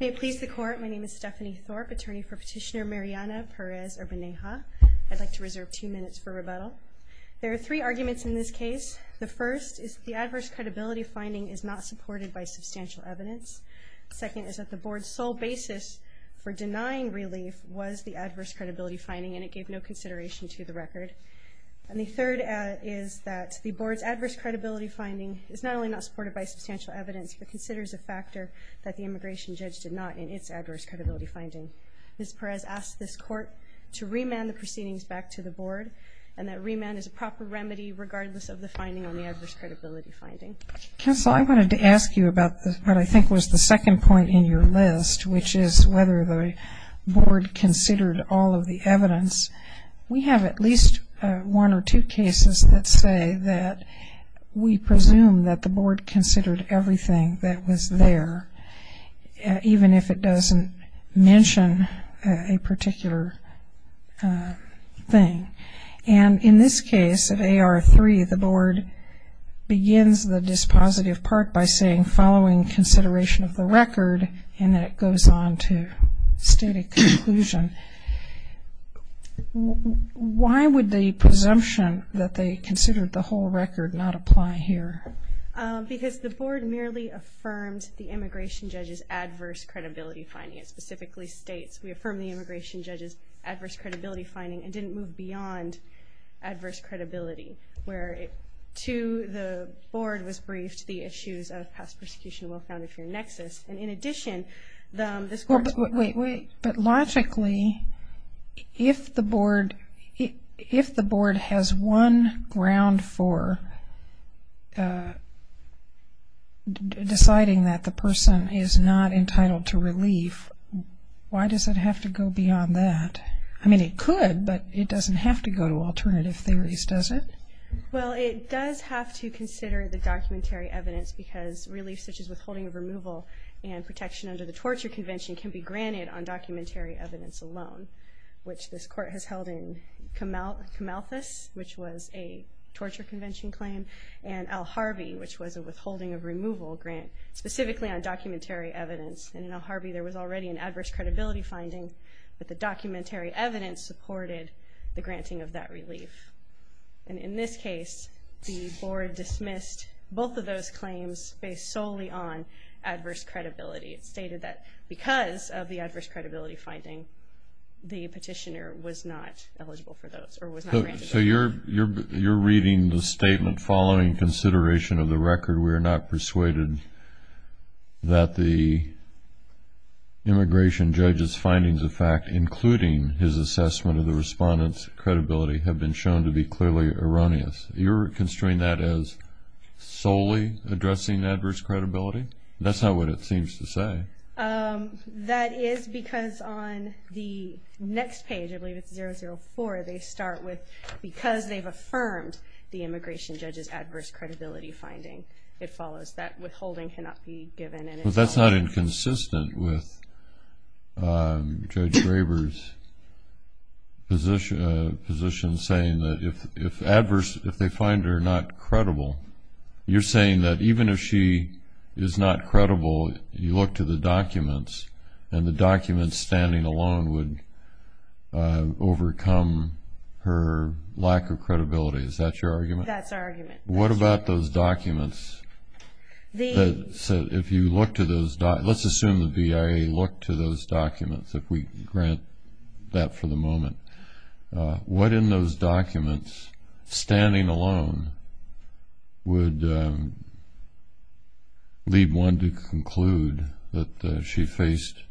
May it please the Court, my name is Stephanie Thorpe, attorney for Petitioner Mariana Perez Urbaneja. I'd like to reserve two minutes for rebuttal. There are three arguments in this case. The first is that the adverse credibility finding is not supported by substantial evidence. Second is that the Board's sole basis for denying relief was the adverse credibility finding and it gave no consideration to the record. And the third is that the Board's adverse credibility finding is not only not supported by substantial evidence but considers a factor that the immigration judge did not in its adverse credibility finding. Ms. Perez asked this Court to remand the proceedings back to the Board and that remand is a proper remedy regardless of the finding on the adverse credibility finding. Counsel, I wanted to ask you about what I think was the second point in your list, which is whether the Board considered all of the evidence. We have at least one or two cases that say that we presume that the Board considered everything that was there, even if it doesn't mention a particular thing. And in this case of AR3, the Board begins the dispositive part by saying, following consideration of the record, and then it goes on to state a conclusion. Why would the presumption that they considered the whole record not apply here? Because the Board merely affirmed the immigration judge's adverse credibility finding. It specifically states, we affirm the immigration judge's adverse credibility finding and didn't move beyond adverse credibility, where to the Board was briefed the issues of past persecution and well-found inferior nexus. And in addition, this Court... But logically, if the Board has one ground for deciding that the person is not entitled to relief, why does it have to go beyond that? I mean, it could, but it doesn't have to go to alternative theories, does it? Well, it does have to consider the documentary evidence, because relief such as withholding of removal and protection under the Torture Convention can be granted on documentary evidence alone, which this Court has held in Kamalthus, which was a Torture Convention claim, and El Harvey, which was a withholding of removal grant, specifically on documentary evidence. And in El Harvey, there was already an adverse credibility finding, but the documentary evidence supported the granting of that relief. And in this case, the Board dismissed both of those claims based solely on adverse credibility. It stated that because of the adverse credibility finding, the petitioner was not eligible for those, or was not granted those. So you're reading the statement, following consideration of the record, we are not persuaded that the immigration judge's findings of fact, including his assessment of the respondent's credibility, have been shown to be clearly erroneous. You're construing that as solely addressing adverse credibility? That's not what it seems to say. That is because on the next page, I believe it's 004, they start with, because they've affirmed the immigration judge's adverse credibility finding, it follows that withholding cannot be given. But that's not inconsistent with Judge Graber's position, saying that if adverse, if they find her not credible, you're saying that even if she is not credible, you look to the documents, and the documents standing alone would overcome her lack of credibility. Is that your argument? That's our argument. What about those documents? Let's assume the BIA looked to those documents, if we grant that for the moment. What in those documents, standing alone, would lead one to conclude that she faced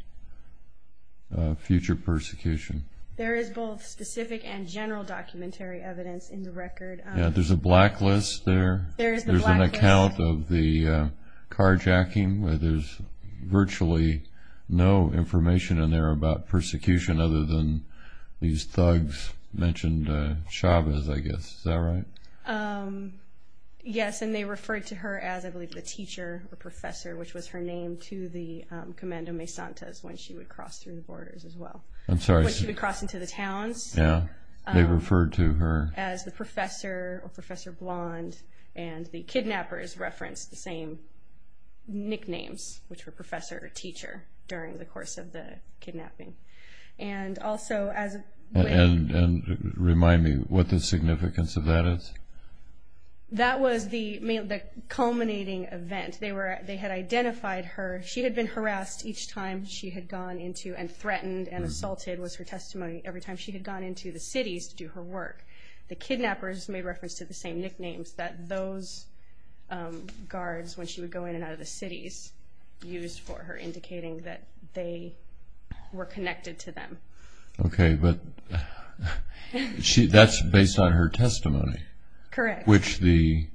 future persecution? There is both specific and general documentary evidence in the record. There's a blacklist there? There's an account of the carjacking, where there's virtually no information in there about persecution, other than these thugs mentioned Chavez, I guess, is that right? Yes, and they referred to her as, I believe, the teacher or professor, which was her name to the Commando Mesantas when she would cross through the borders as well. I'm sorry. As the professor or professor blonde, and the kidnappers referenced the same nicknames, which were professor or teacher during the course of the kidnapping. And remind me what the significance of that is? That was the culminating event. They had identified her, she had been harassed each time she had gone into, and threatened and assaulted was her testimony every time she had gone into the cities to do her work. The kidnappers made reference to the same nicknames that those guards, when she would go in and out of the cities, used for her, indicating that they were connected to them. Okay, but that's based on her testimony. Correct. Which the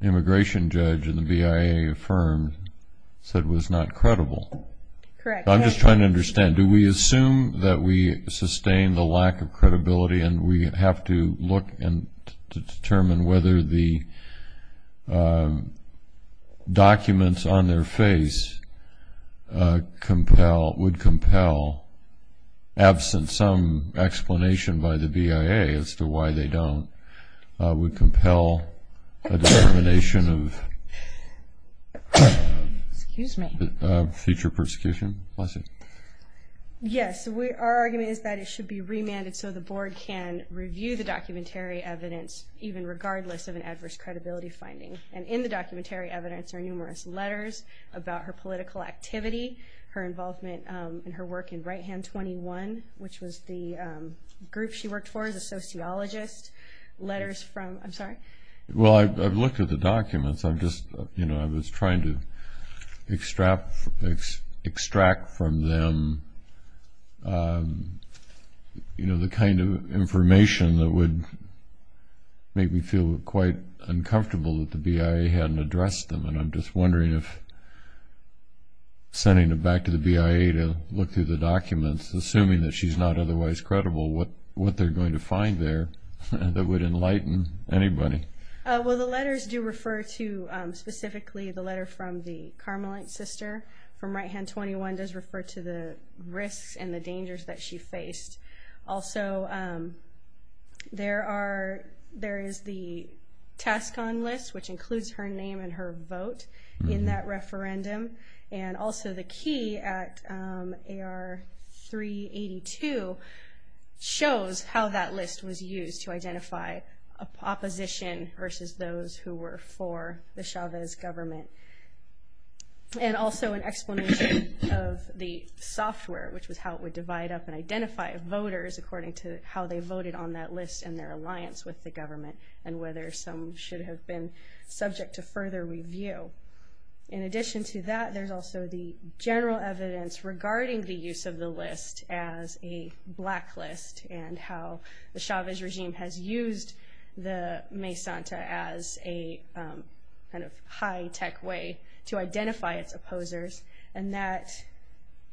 immigration judge and the BIA affirmed said was not credible. Correct. I'm just trying to understand, do we assume that we sustain the lack of credibility, and we have to look and determine whether the documents on their face would compel, absent some explanation by the BIA as to why they don't, would compel a determination of future persecution? Yes, our argument is that it should be remanded so the board can review the documentary evidence, even regardless of an adverse credibility finding. And in the documentary evidence are numerous letters about her political activity, her involvement in her work in Right Hand 21, which was the group she worked for as a sociologist. Letters from, I'm sorry? Well, I've looked at the documents. I'm just, you know, I was trying to extract from them, you know, the kind of information that would make me feel quite uncomfortable that the BIA hadn't addressed them. And I'm just wondering if sending it back to the BIA to look through the documents, assuming that she's not otherwise credible, what would that mean? Well, the letters do refer to, specifically the letter from the Carmelite sister from Right Hand 21, does refer to the risks and the dangers that she faced. Also, there are, there is the task on list, which includes her name and her vote in that referendum. And also the key at AR 382 shows how that list was used to identify opposition versus those who were for the Chavez government. And also an explanation of the software, which was how it would divide up and identify voters according to how they voted on that list and their alliance with the government and whether some should have been subject to further review. In addition to that, there's also the general evidence regarding the use of the list as a blacklist and how the Chavez regime has used the Mesanta as a kind of high tech way to identify its opposers and that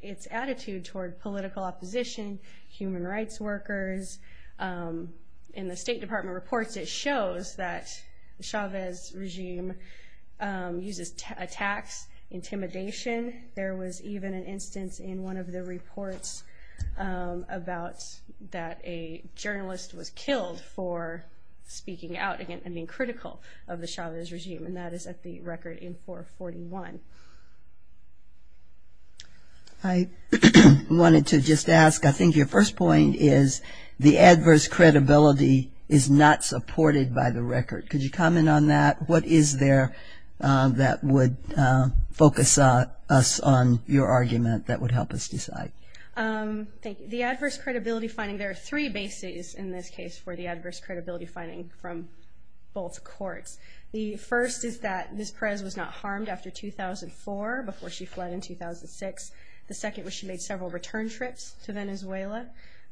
its attitude toward political opposition, human rights workers, in the State Department reports it shows that Chavez regime uses attacks, intimidation. There was even an instance in one of the reports about that a journalist was killed for speaking out and being critical of the Chavez regime and that is at the record in 441. I wanted to just ask, I think your first point is the adverse credibility is not supported by the record. Could you comment on that? What is there that would focus us on your argument that would help us decide? The adverse credibility finding, there are three bases in this case for the adverse credibility finding from both courts. The first is that Ms. Perez was not harmed after 2004 before she fled in 2006. The second was she made several return trips to Venezuela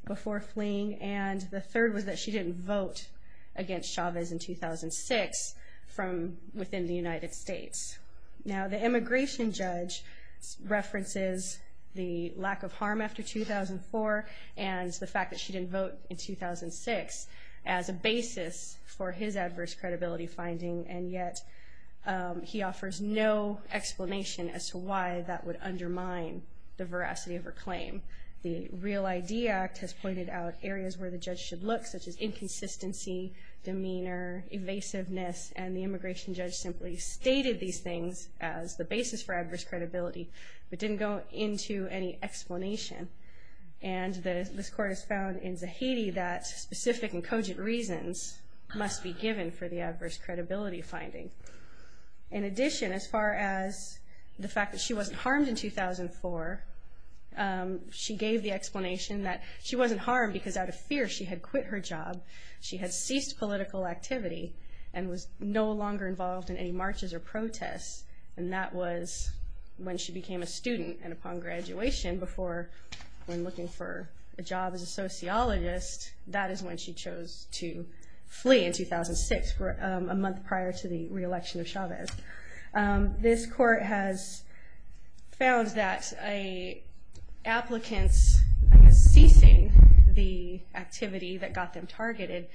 before fleeing and the third was that she didn't vote against Chavez in 2006 from within the United States. Now the immigration judge references the lack of harm after 2004 and the fact that she didn't vote in 2006 as a basis for his adverse credibility finding and yet he offers no explanation as to why that would undermine the veracity of her claim. The Real ID Act has pointed out areas where the judge should look such as inconsistency, demeanor, evasiveness and the immigration judge simply stated these things as the basis for adverse credibility but didn't go into any explanation. And this court has found in Zahidi that specific and cogent reasons must be given for the adverse credibility finding. In addition, as far as the fact that she wasn't harmed in 2004, she gave the explanation that she wasn't harmed because out of fear she had quit her job, she had ceased political activity and was no longer involved in any marches or protests and that was when she became a student and upon graduation before when looking for a job as a sociologist, that is when she chose to flee in 2006, a month prior to the re-election of Chavez. This court has found that applicants ceasing the activity that got them targeted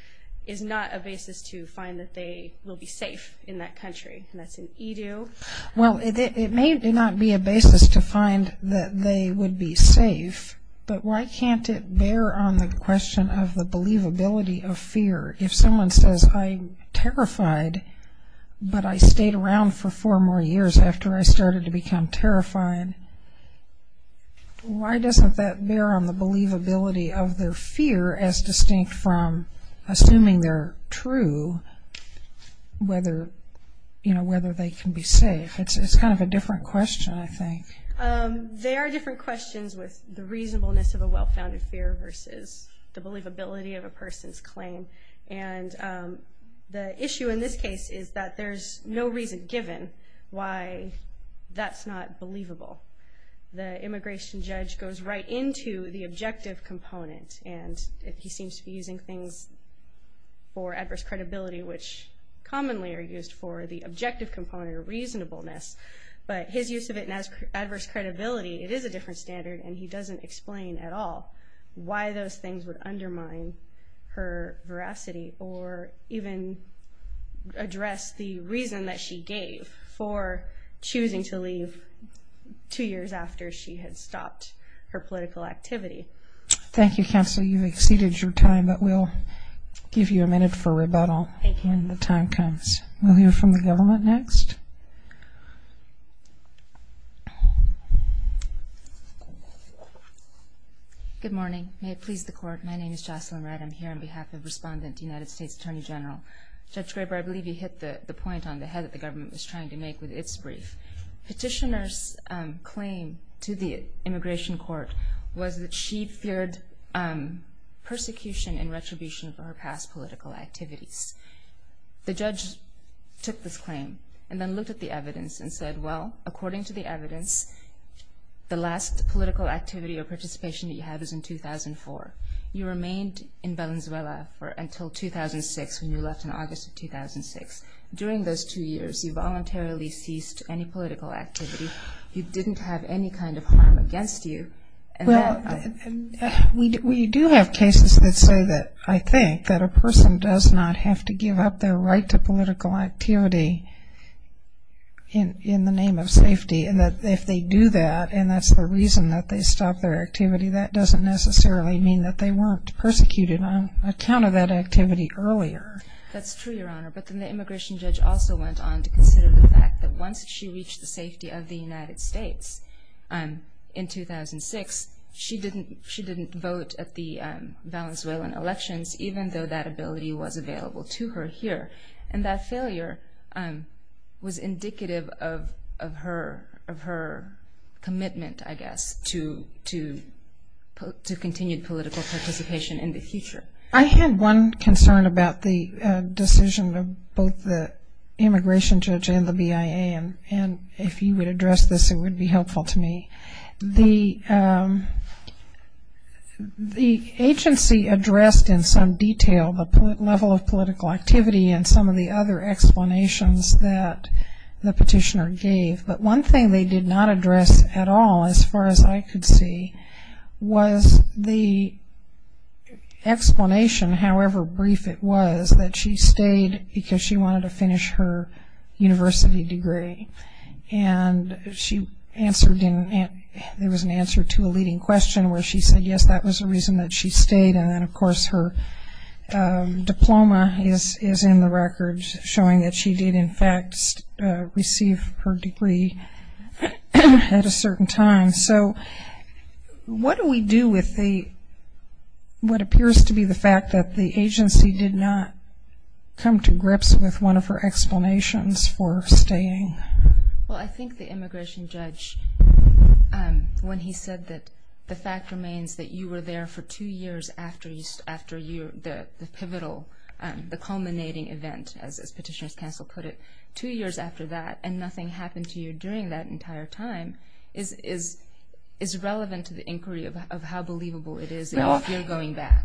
is not a basis to find that they will be safe in that country and that's an edu. Well, it may not be a basis to find that they would be safe but why can't it bear on the question of the believability of fear? If someone says I'm terrified but I stayed around for four more years after I started to become terrified, why doesn't that bear on the believability of their fear as distinct from assuming they're true, whether they can be safe? It's kind of a different question, I think. They are different questions with the reasonableness of a well-founded fear versus the believability of a person's claim and the issue in this case is that there's no reason given why that's not believable. The immigration judge goes right into the objective component and he seems to be using things for adverse credibility which commonly are used for the objective component of reasonableness but his use of it as adverse credibility, it is a different standard and he doesn't explain at all why those things would undermine her veracity or even address the reason that she gave for choosing to leave two years after she had stopped her political activity. Counsel, you've exceeded your time but we'll give you a minute for rebuttal when the time comes. We'll hear from the government next. Good morning. May it please the court. My name is Jocelyn Wright. I'm here on behalf of Respondent United States Attorney General. Judge Graber, I believe you hit the point on the head that the government was trying to make with its brief. Petitioner's claim to the immigration court was that she feared persecution and retribution for her past political activities. The judge took this claim and then looked at the evidence and said, well, according to the evidence, the last political activity or participation that you had was in 2004. You remained in Venezuela until 2006 when you left in August of 2006. During those two years, you voluntarily ceased any political activity. You didn't have any kind of harm against you. We do have cases that say that I think that a person does not have to give up their right to political activity in the name of safety and that if they do that and that's the reason that they stop their activity, that doesn't necessarily mean that they weren't persecuted on account of that activity earlier. That's true, Your Honor. But then the immigration judge also went on to consider the fact that once she reached the safety of the United States in 2006, she didn't vote at the Venezuelan elections, even though that ability was available to her here. And that failure was indicative of her commitment, I guess, to continued political participation in the future. I had one concern about the decision of both the immigration judge and the BIA, and if you would address this, it would be helpful to me. The agency addressed in some detail the level of political activity and some of the other explanations that the petitioner gave, but one thing they did not address at all, as far as I could see, was the explanation, however brief it was, that she stayed because she wanted to finish her university degree. And there was an answer to a leading question where she said yes, that was the reason that she stayed. And then, of course, her diploma is in the records, showing that she did, in fact, receive her degree at a certain time. So what do we do with what appears to be the fact that the agency did not come to grips with one of her explanations for staying? Well, I think the immigration judge, when he said that the fact remains that you were there for two years after the pivotal, the culminating event, as Petitioner's Counsel put it, two years after that, and nothing happened to you during that entire time, is relevant to the inquiry of how believable it is if you're going back.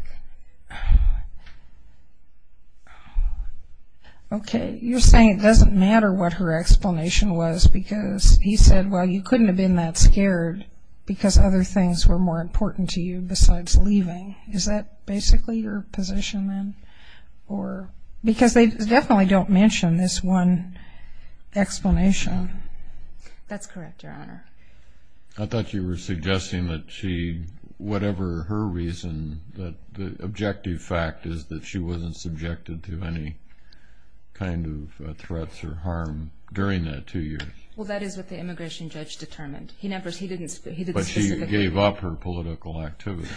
Okay, you're saying it doesn't matter what her explanation was, because he said, well, you couldn't have been that scared because other things were more important to you besides leaving. Is that basically your position then? Because they definitely don't mention this one explanation. That's correct, Your Honor. I thought you were suggesting that she, whatever her reason, that the objective fact is that she wasn't subjected to any kind of threats or harm during the two years. Well, that is what the immigration judge determined. But she gave up her political activity.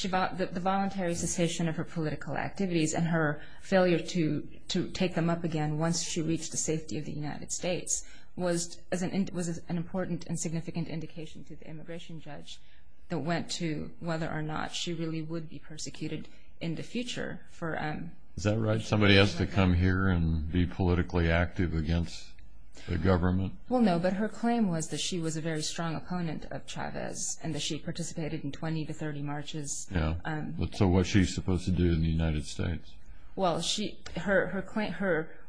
The voluntary cessation of her political activities and her failure to take them up again once she reached the safety of the United States was an important and significant indication to the immigration judge that went to whether or not she really would be persecuted in the future. Is that right? Somebody has to come here and be politically active against the government? Well, no, but her claim was that she was a very strong opponent of Chavez and that she participated in 20 to 30 marches. So what's she supposed to do in the United States? Well,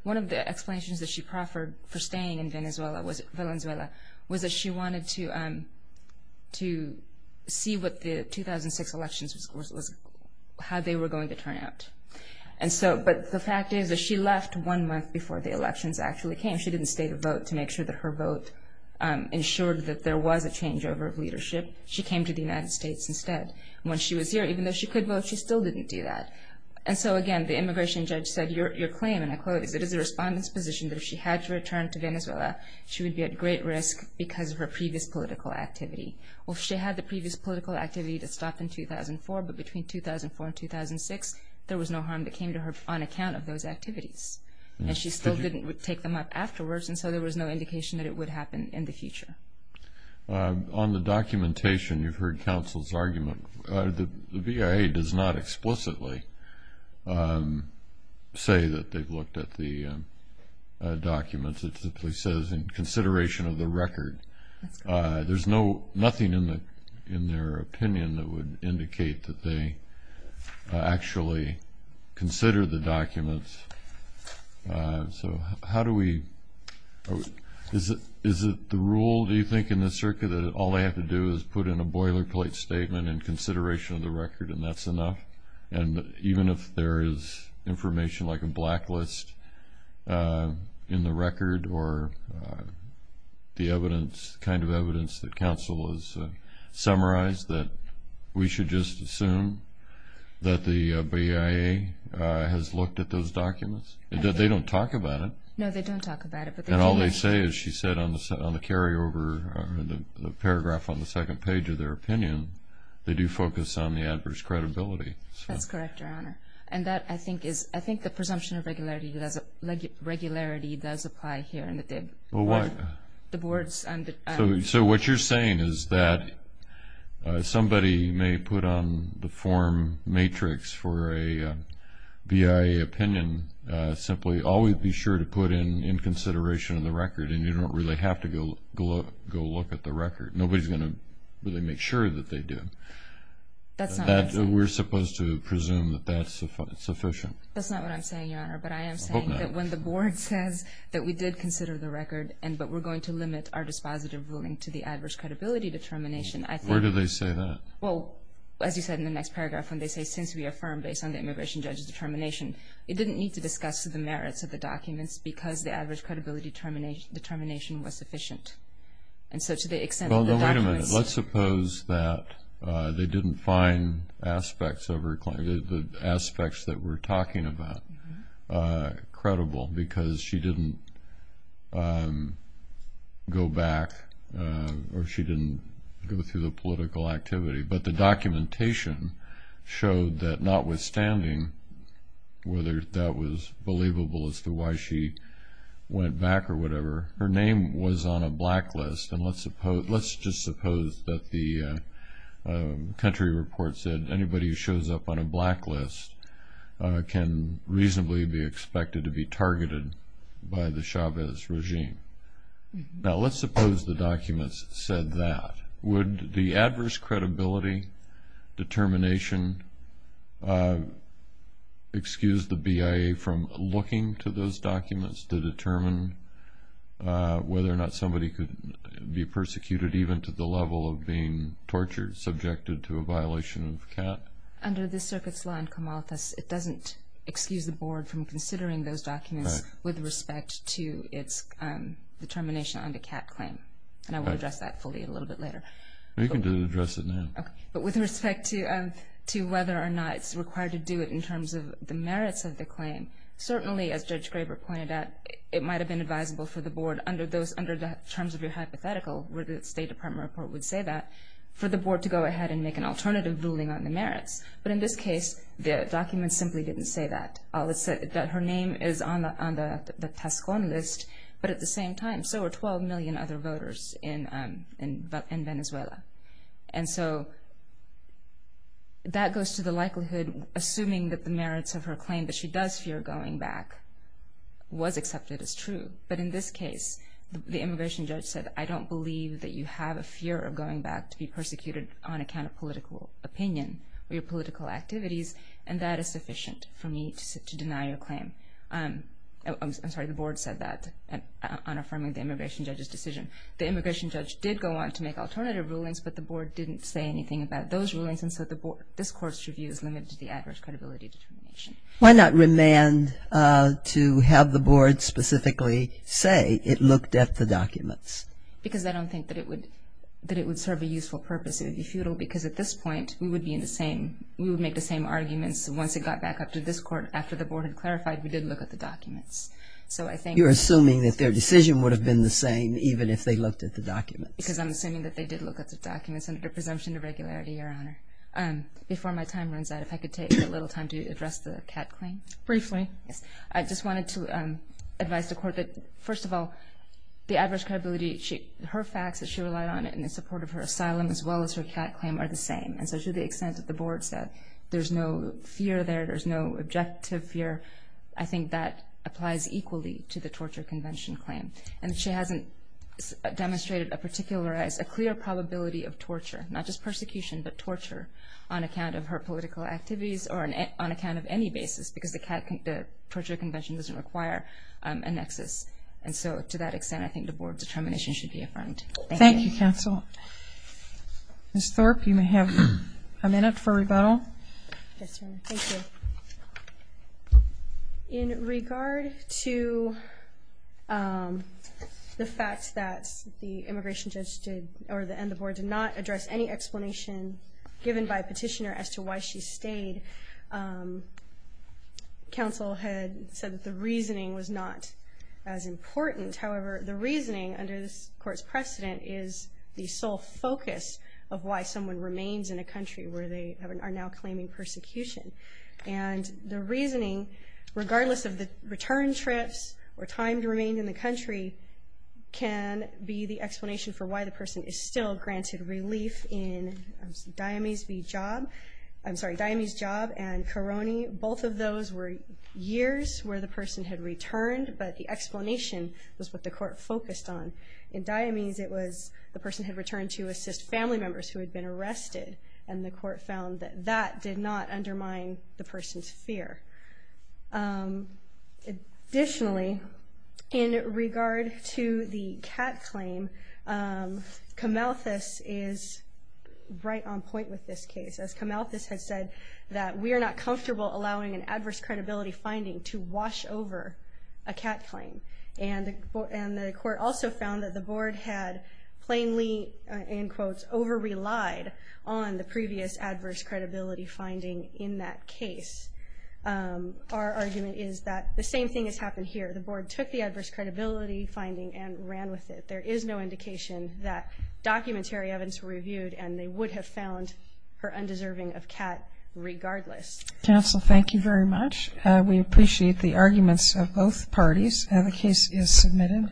one of the explanations that she proffered for staying in Venezuela was that she wanted to see what the 2006 elections was, how they were going to turn out. But the fact is that she left one month before the elections actually came. She didn't state a vote to make sure that her vote ensured that there was a changeover of leadership. She came to the United States instead. When she was here, even though she could vote, she still didn't do that. And so, again, the immigration judge said, Your claim, and I quote, is it is the respondent's position that if she had to return to Venezuela, she would be at great risk because of her previous political activity. Well, she had the previous political activity that stopped in 2004, but between 2004 and 2006, there was no harm that came to her on account of those activities. And she still didn't take them up afterwards, and so there was no indication that it would happen in the future. On the documentation, you've heard counsel's argument. The VIA does not explicitly say that they've looked at the documents. It simply says in consideration of the record. There's nothing in their opinion that would indicate that they actually consider the documents. So how do we – is it the rule, do you think, in the circuit that all they have to do is put in a boilerplate statement in consideration of the record and that's enough? And even if there is information like a blacklist in the record or the evidence, the kind of evidence that counsel has summarized, that we should just assume that the VIA has looked at those documents? That they don't talk about it? No, they don't talk about it. And all they say is, she said on the carryover, the paragraph on the second page of their opinion, they do focus on the adverse credibility. That's correct, Your Honor. And that, I think, is – I think the presumption of regularity does apply here. Well, what? The board's – So what you're saying is that somebody may put on the form matrix for a VIA opinion, simply always be sure to put in consideration of the record, and you don't really have to go look at the record. Nobody's going to really make sure that they do. That's not what I'm saying. We're supposed to presume that that's sufficient. That's not what I'm saying, Your Honor. But I am saying that when the board says that we did consider the record but we're going to limit our dispositive ruling to the adverse credibility determination, I think – Where do they say that? Well, as you said in the next paragraph, when they say since we affirm based on the immigration judge's determination, it didn't need to discuss the merits of the documents because the adverse credibility determination was sufficient. And so to the extent that the documents – Well, now, wait a minute. Let's suppose that they didn't find aspects of her claim – the aspects that we're talking about credible because she didn't go back or she didn't go through the political activity. But the documentation showed that notwithstanding whether that was believable as to why she went back or whatever, her name was on a blacklist. And let's just suppose that the country report said anybody who shows up on a blacklist can reasonably be expected to be targeted by the Chavez regime. Now, let's suppose the documents said that. Would the adverse credibility determination excuse the BIA from looking to those documents to determine whether or not somebody could be persecuted even to the level of being tortured, subjected to a violation of CAT? Under this circuit's law in Comaltas, it doesn't excuse the board from considering those documents with respect to its determination on the CAT claim. And I will address that fully a little bit later. You can address it now. But with respect to whether or not it's required to do it in terms of the merits of the claim, certainly, as Judge Graber pointed out, it might have been advisable for the board under the terms of your hypothetical where the State Department report would say that for the board to go ahead and make an alternative ruling on the merits. But in this case, the documents simply didn't say that. It said that her name is on the Tascón list, but at the same time, so are 12 million other voters in Venezuela. And so that goes to the likelihood, assuming that the merits of her claim that she does fear going back was accepted as true. But in this case, the immigration judge said, I don't believe that you have a fear of going back to be persecuted on account of political opinion or your political activities, and that is sufficient for me to deny your claim. I'm sorry, the board said that on affirming the immigration judge's decision. The immigration judge did go on to make alternative rulings, but the board didn't say anything about those rulings. And so this court's review is limited to the adverse credibility determination. Why not remand to have the board specifically say it looked at the documents? Because I don't think that it would serve a useful purpose. It would be futile. Because at this point, we would make the same arguments. Once it got back up to this court, after the board had clarified, we did look at the documents. You're assuming that their decision would have been the same, even if they looked at the documents. Because I'm assuming that they did look at the documents under the presumption of regularity, Your Honor. Before my time runs out, if I could take a little time to address the Catt claim. Briefly. I just wanted to advise the court that, first of all, the adverse credibility, her facts that she relied on in the support of her asylum, as well as her Catt claim, are the same. And so to the extent that the board said there's no fear there, there's no objective fear, I think that applies equally to the torture convention claim. And she hasn't demonstrated a clear probability of torture, not just persecution, but torture on account of her political activities or on account of any basis, because the torture convention doesn't require a nexus. And so to that extent, I think the board determination should be affirmed. Thank you. Thank you, counsel. Ms. Thorpe, you may have a minute for rebuttal. Yes, Your Honor. Thank you. In regard to the fact that the immigration judge did or the board did not address any explanation given by a petitioner as to why she stayed, counsel had said that the reasoning was not as important. However, the reasoning, under this court's precedent, is the sole focus of why someone remains in a country where they are now claiming persecution. And the reasoning, regardless of the return trips or time to remain in the country, can be the explanation for why the person is still granted relief in Diomese v. Job. I'm sorry, Diomese v. Job and Korone. Both of those were years where the person had returned, but the explanation was what the court focused on. In Diomese, it was the person had returned to assist family members who had been arrested, and the court found that that did not undermine the person's fear. Additionally, in regard to the cat claim, Camalthus is right on point with this case. As Camalthus has said, that we are not comfortable allowing an adverse credibility finding to wash over a cat claim. And the court also found that the board had plainly, in quotes, over-relied on the previous adverse credibility finding in that case. Our argument is that the same thing has happened here. The board took the adverse credibility finding and ran with it. There is no indication that documentary evidence were reviewed, and they would have found her undeserving of cat regardless. Counsel, thank you very much. We appreciate the arguments of both parties. The case is submitted.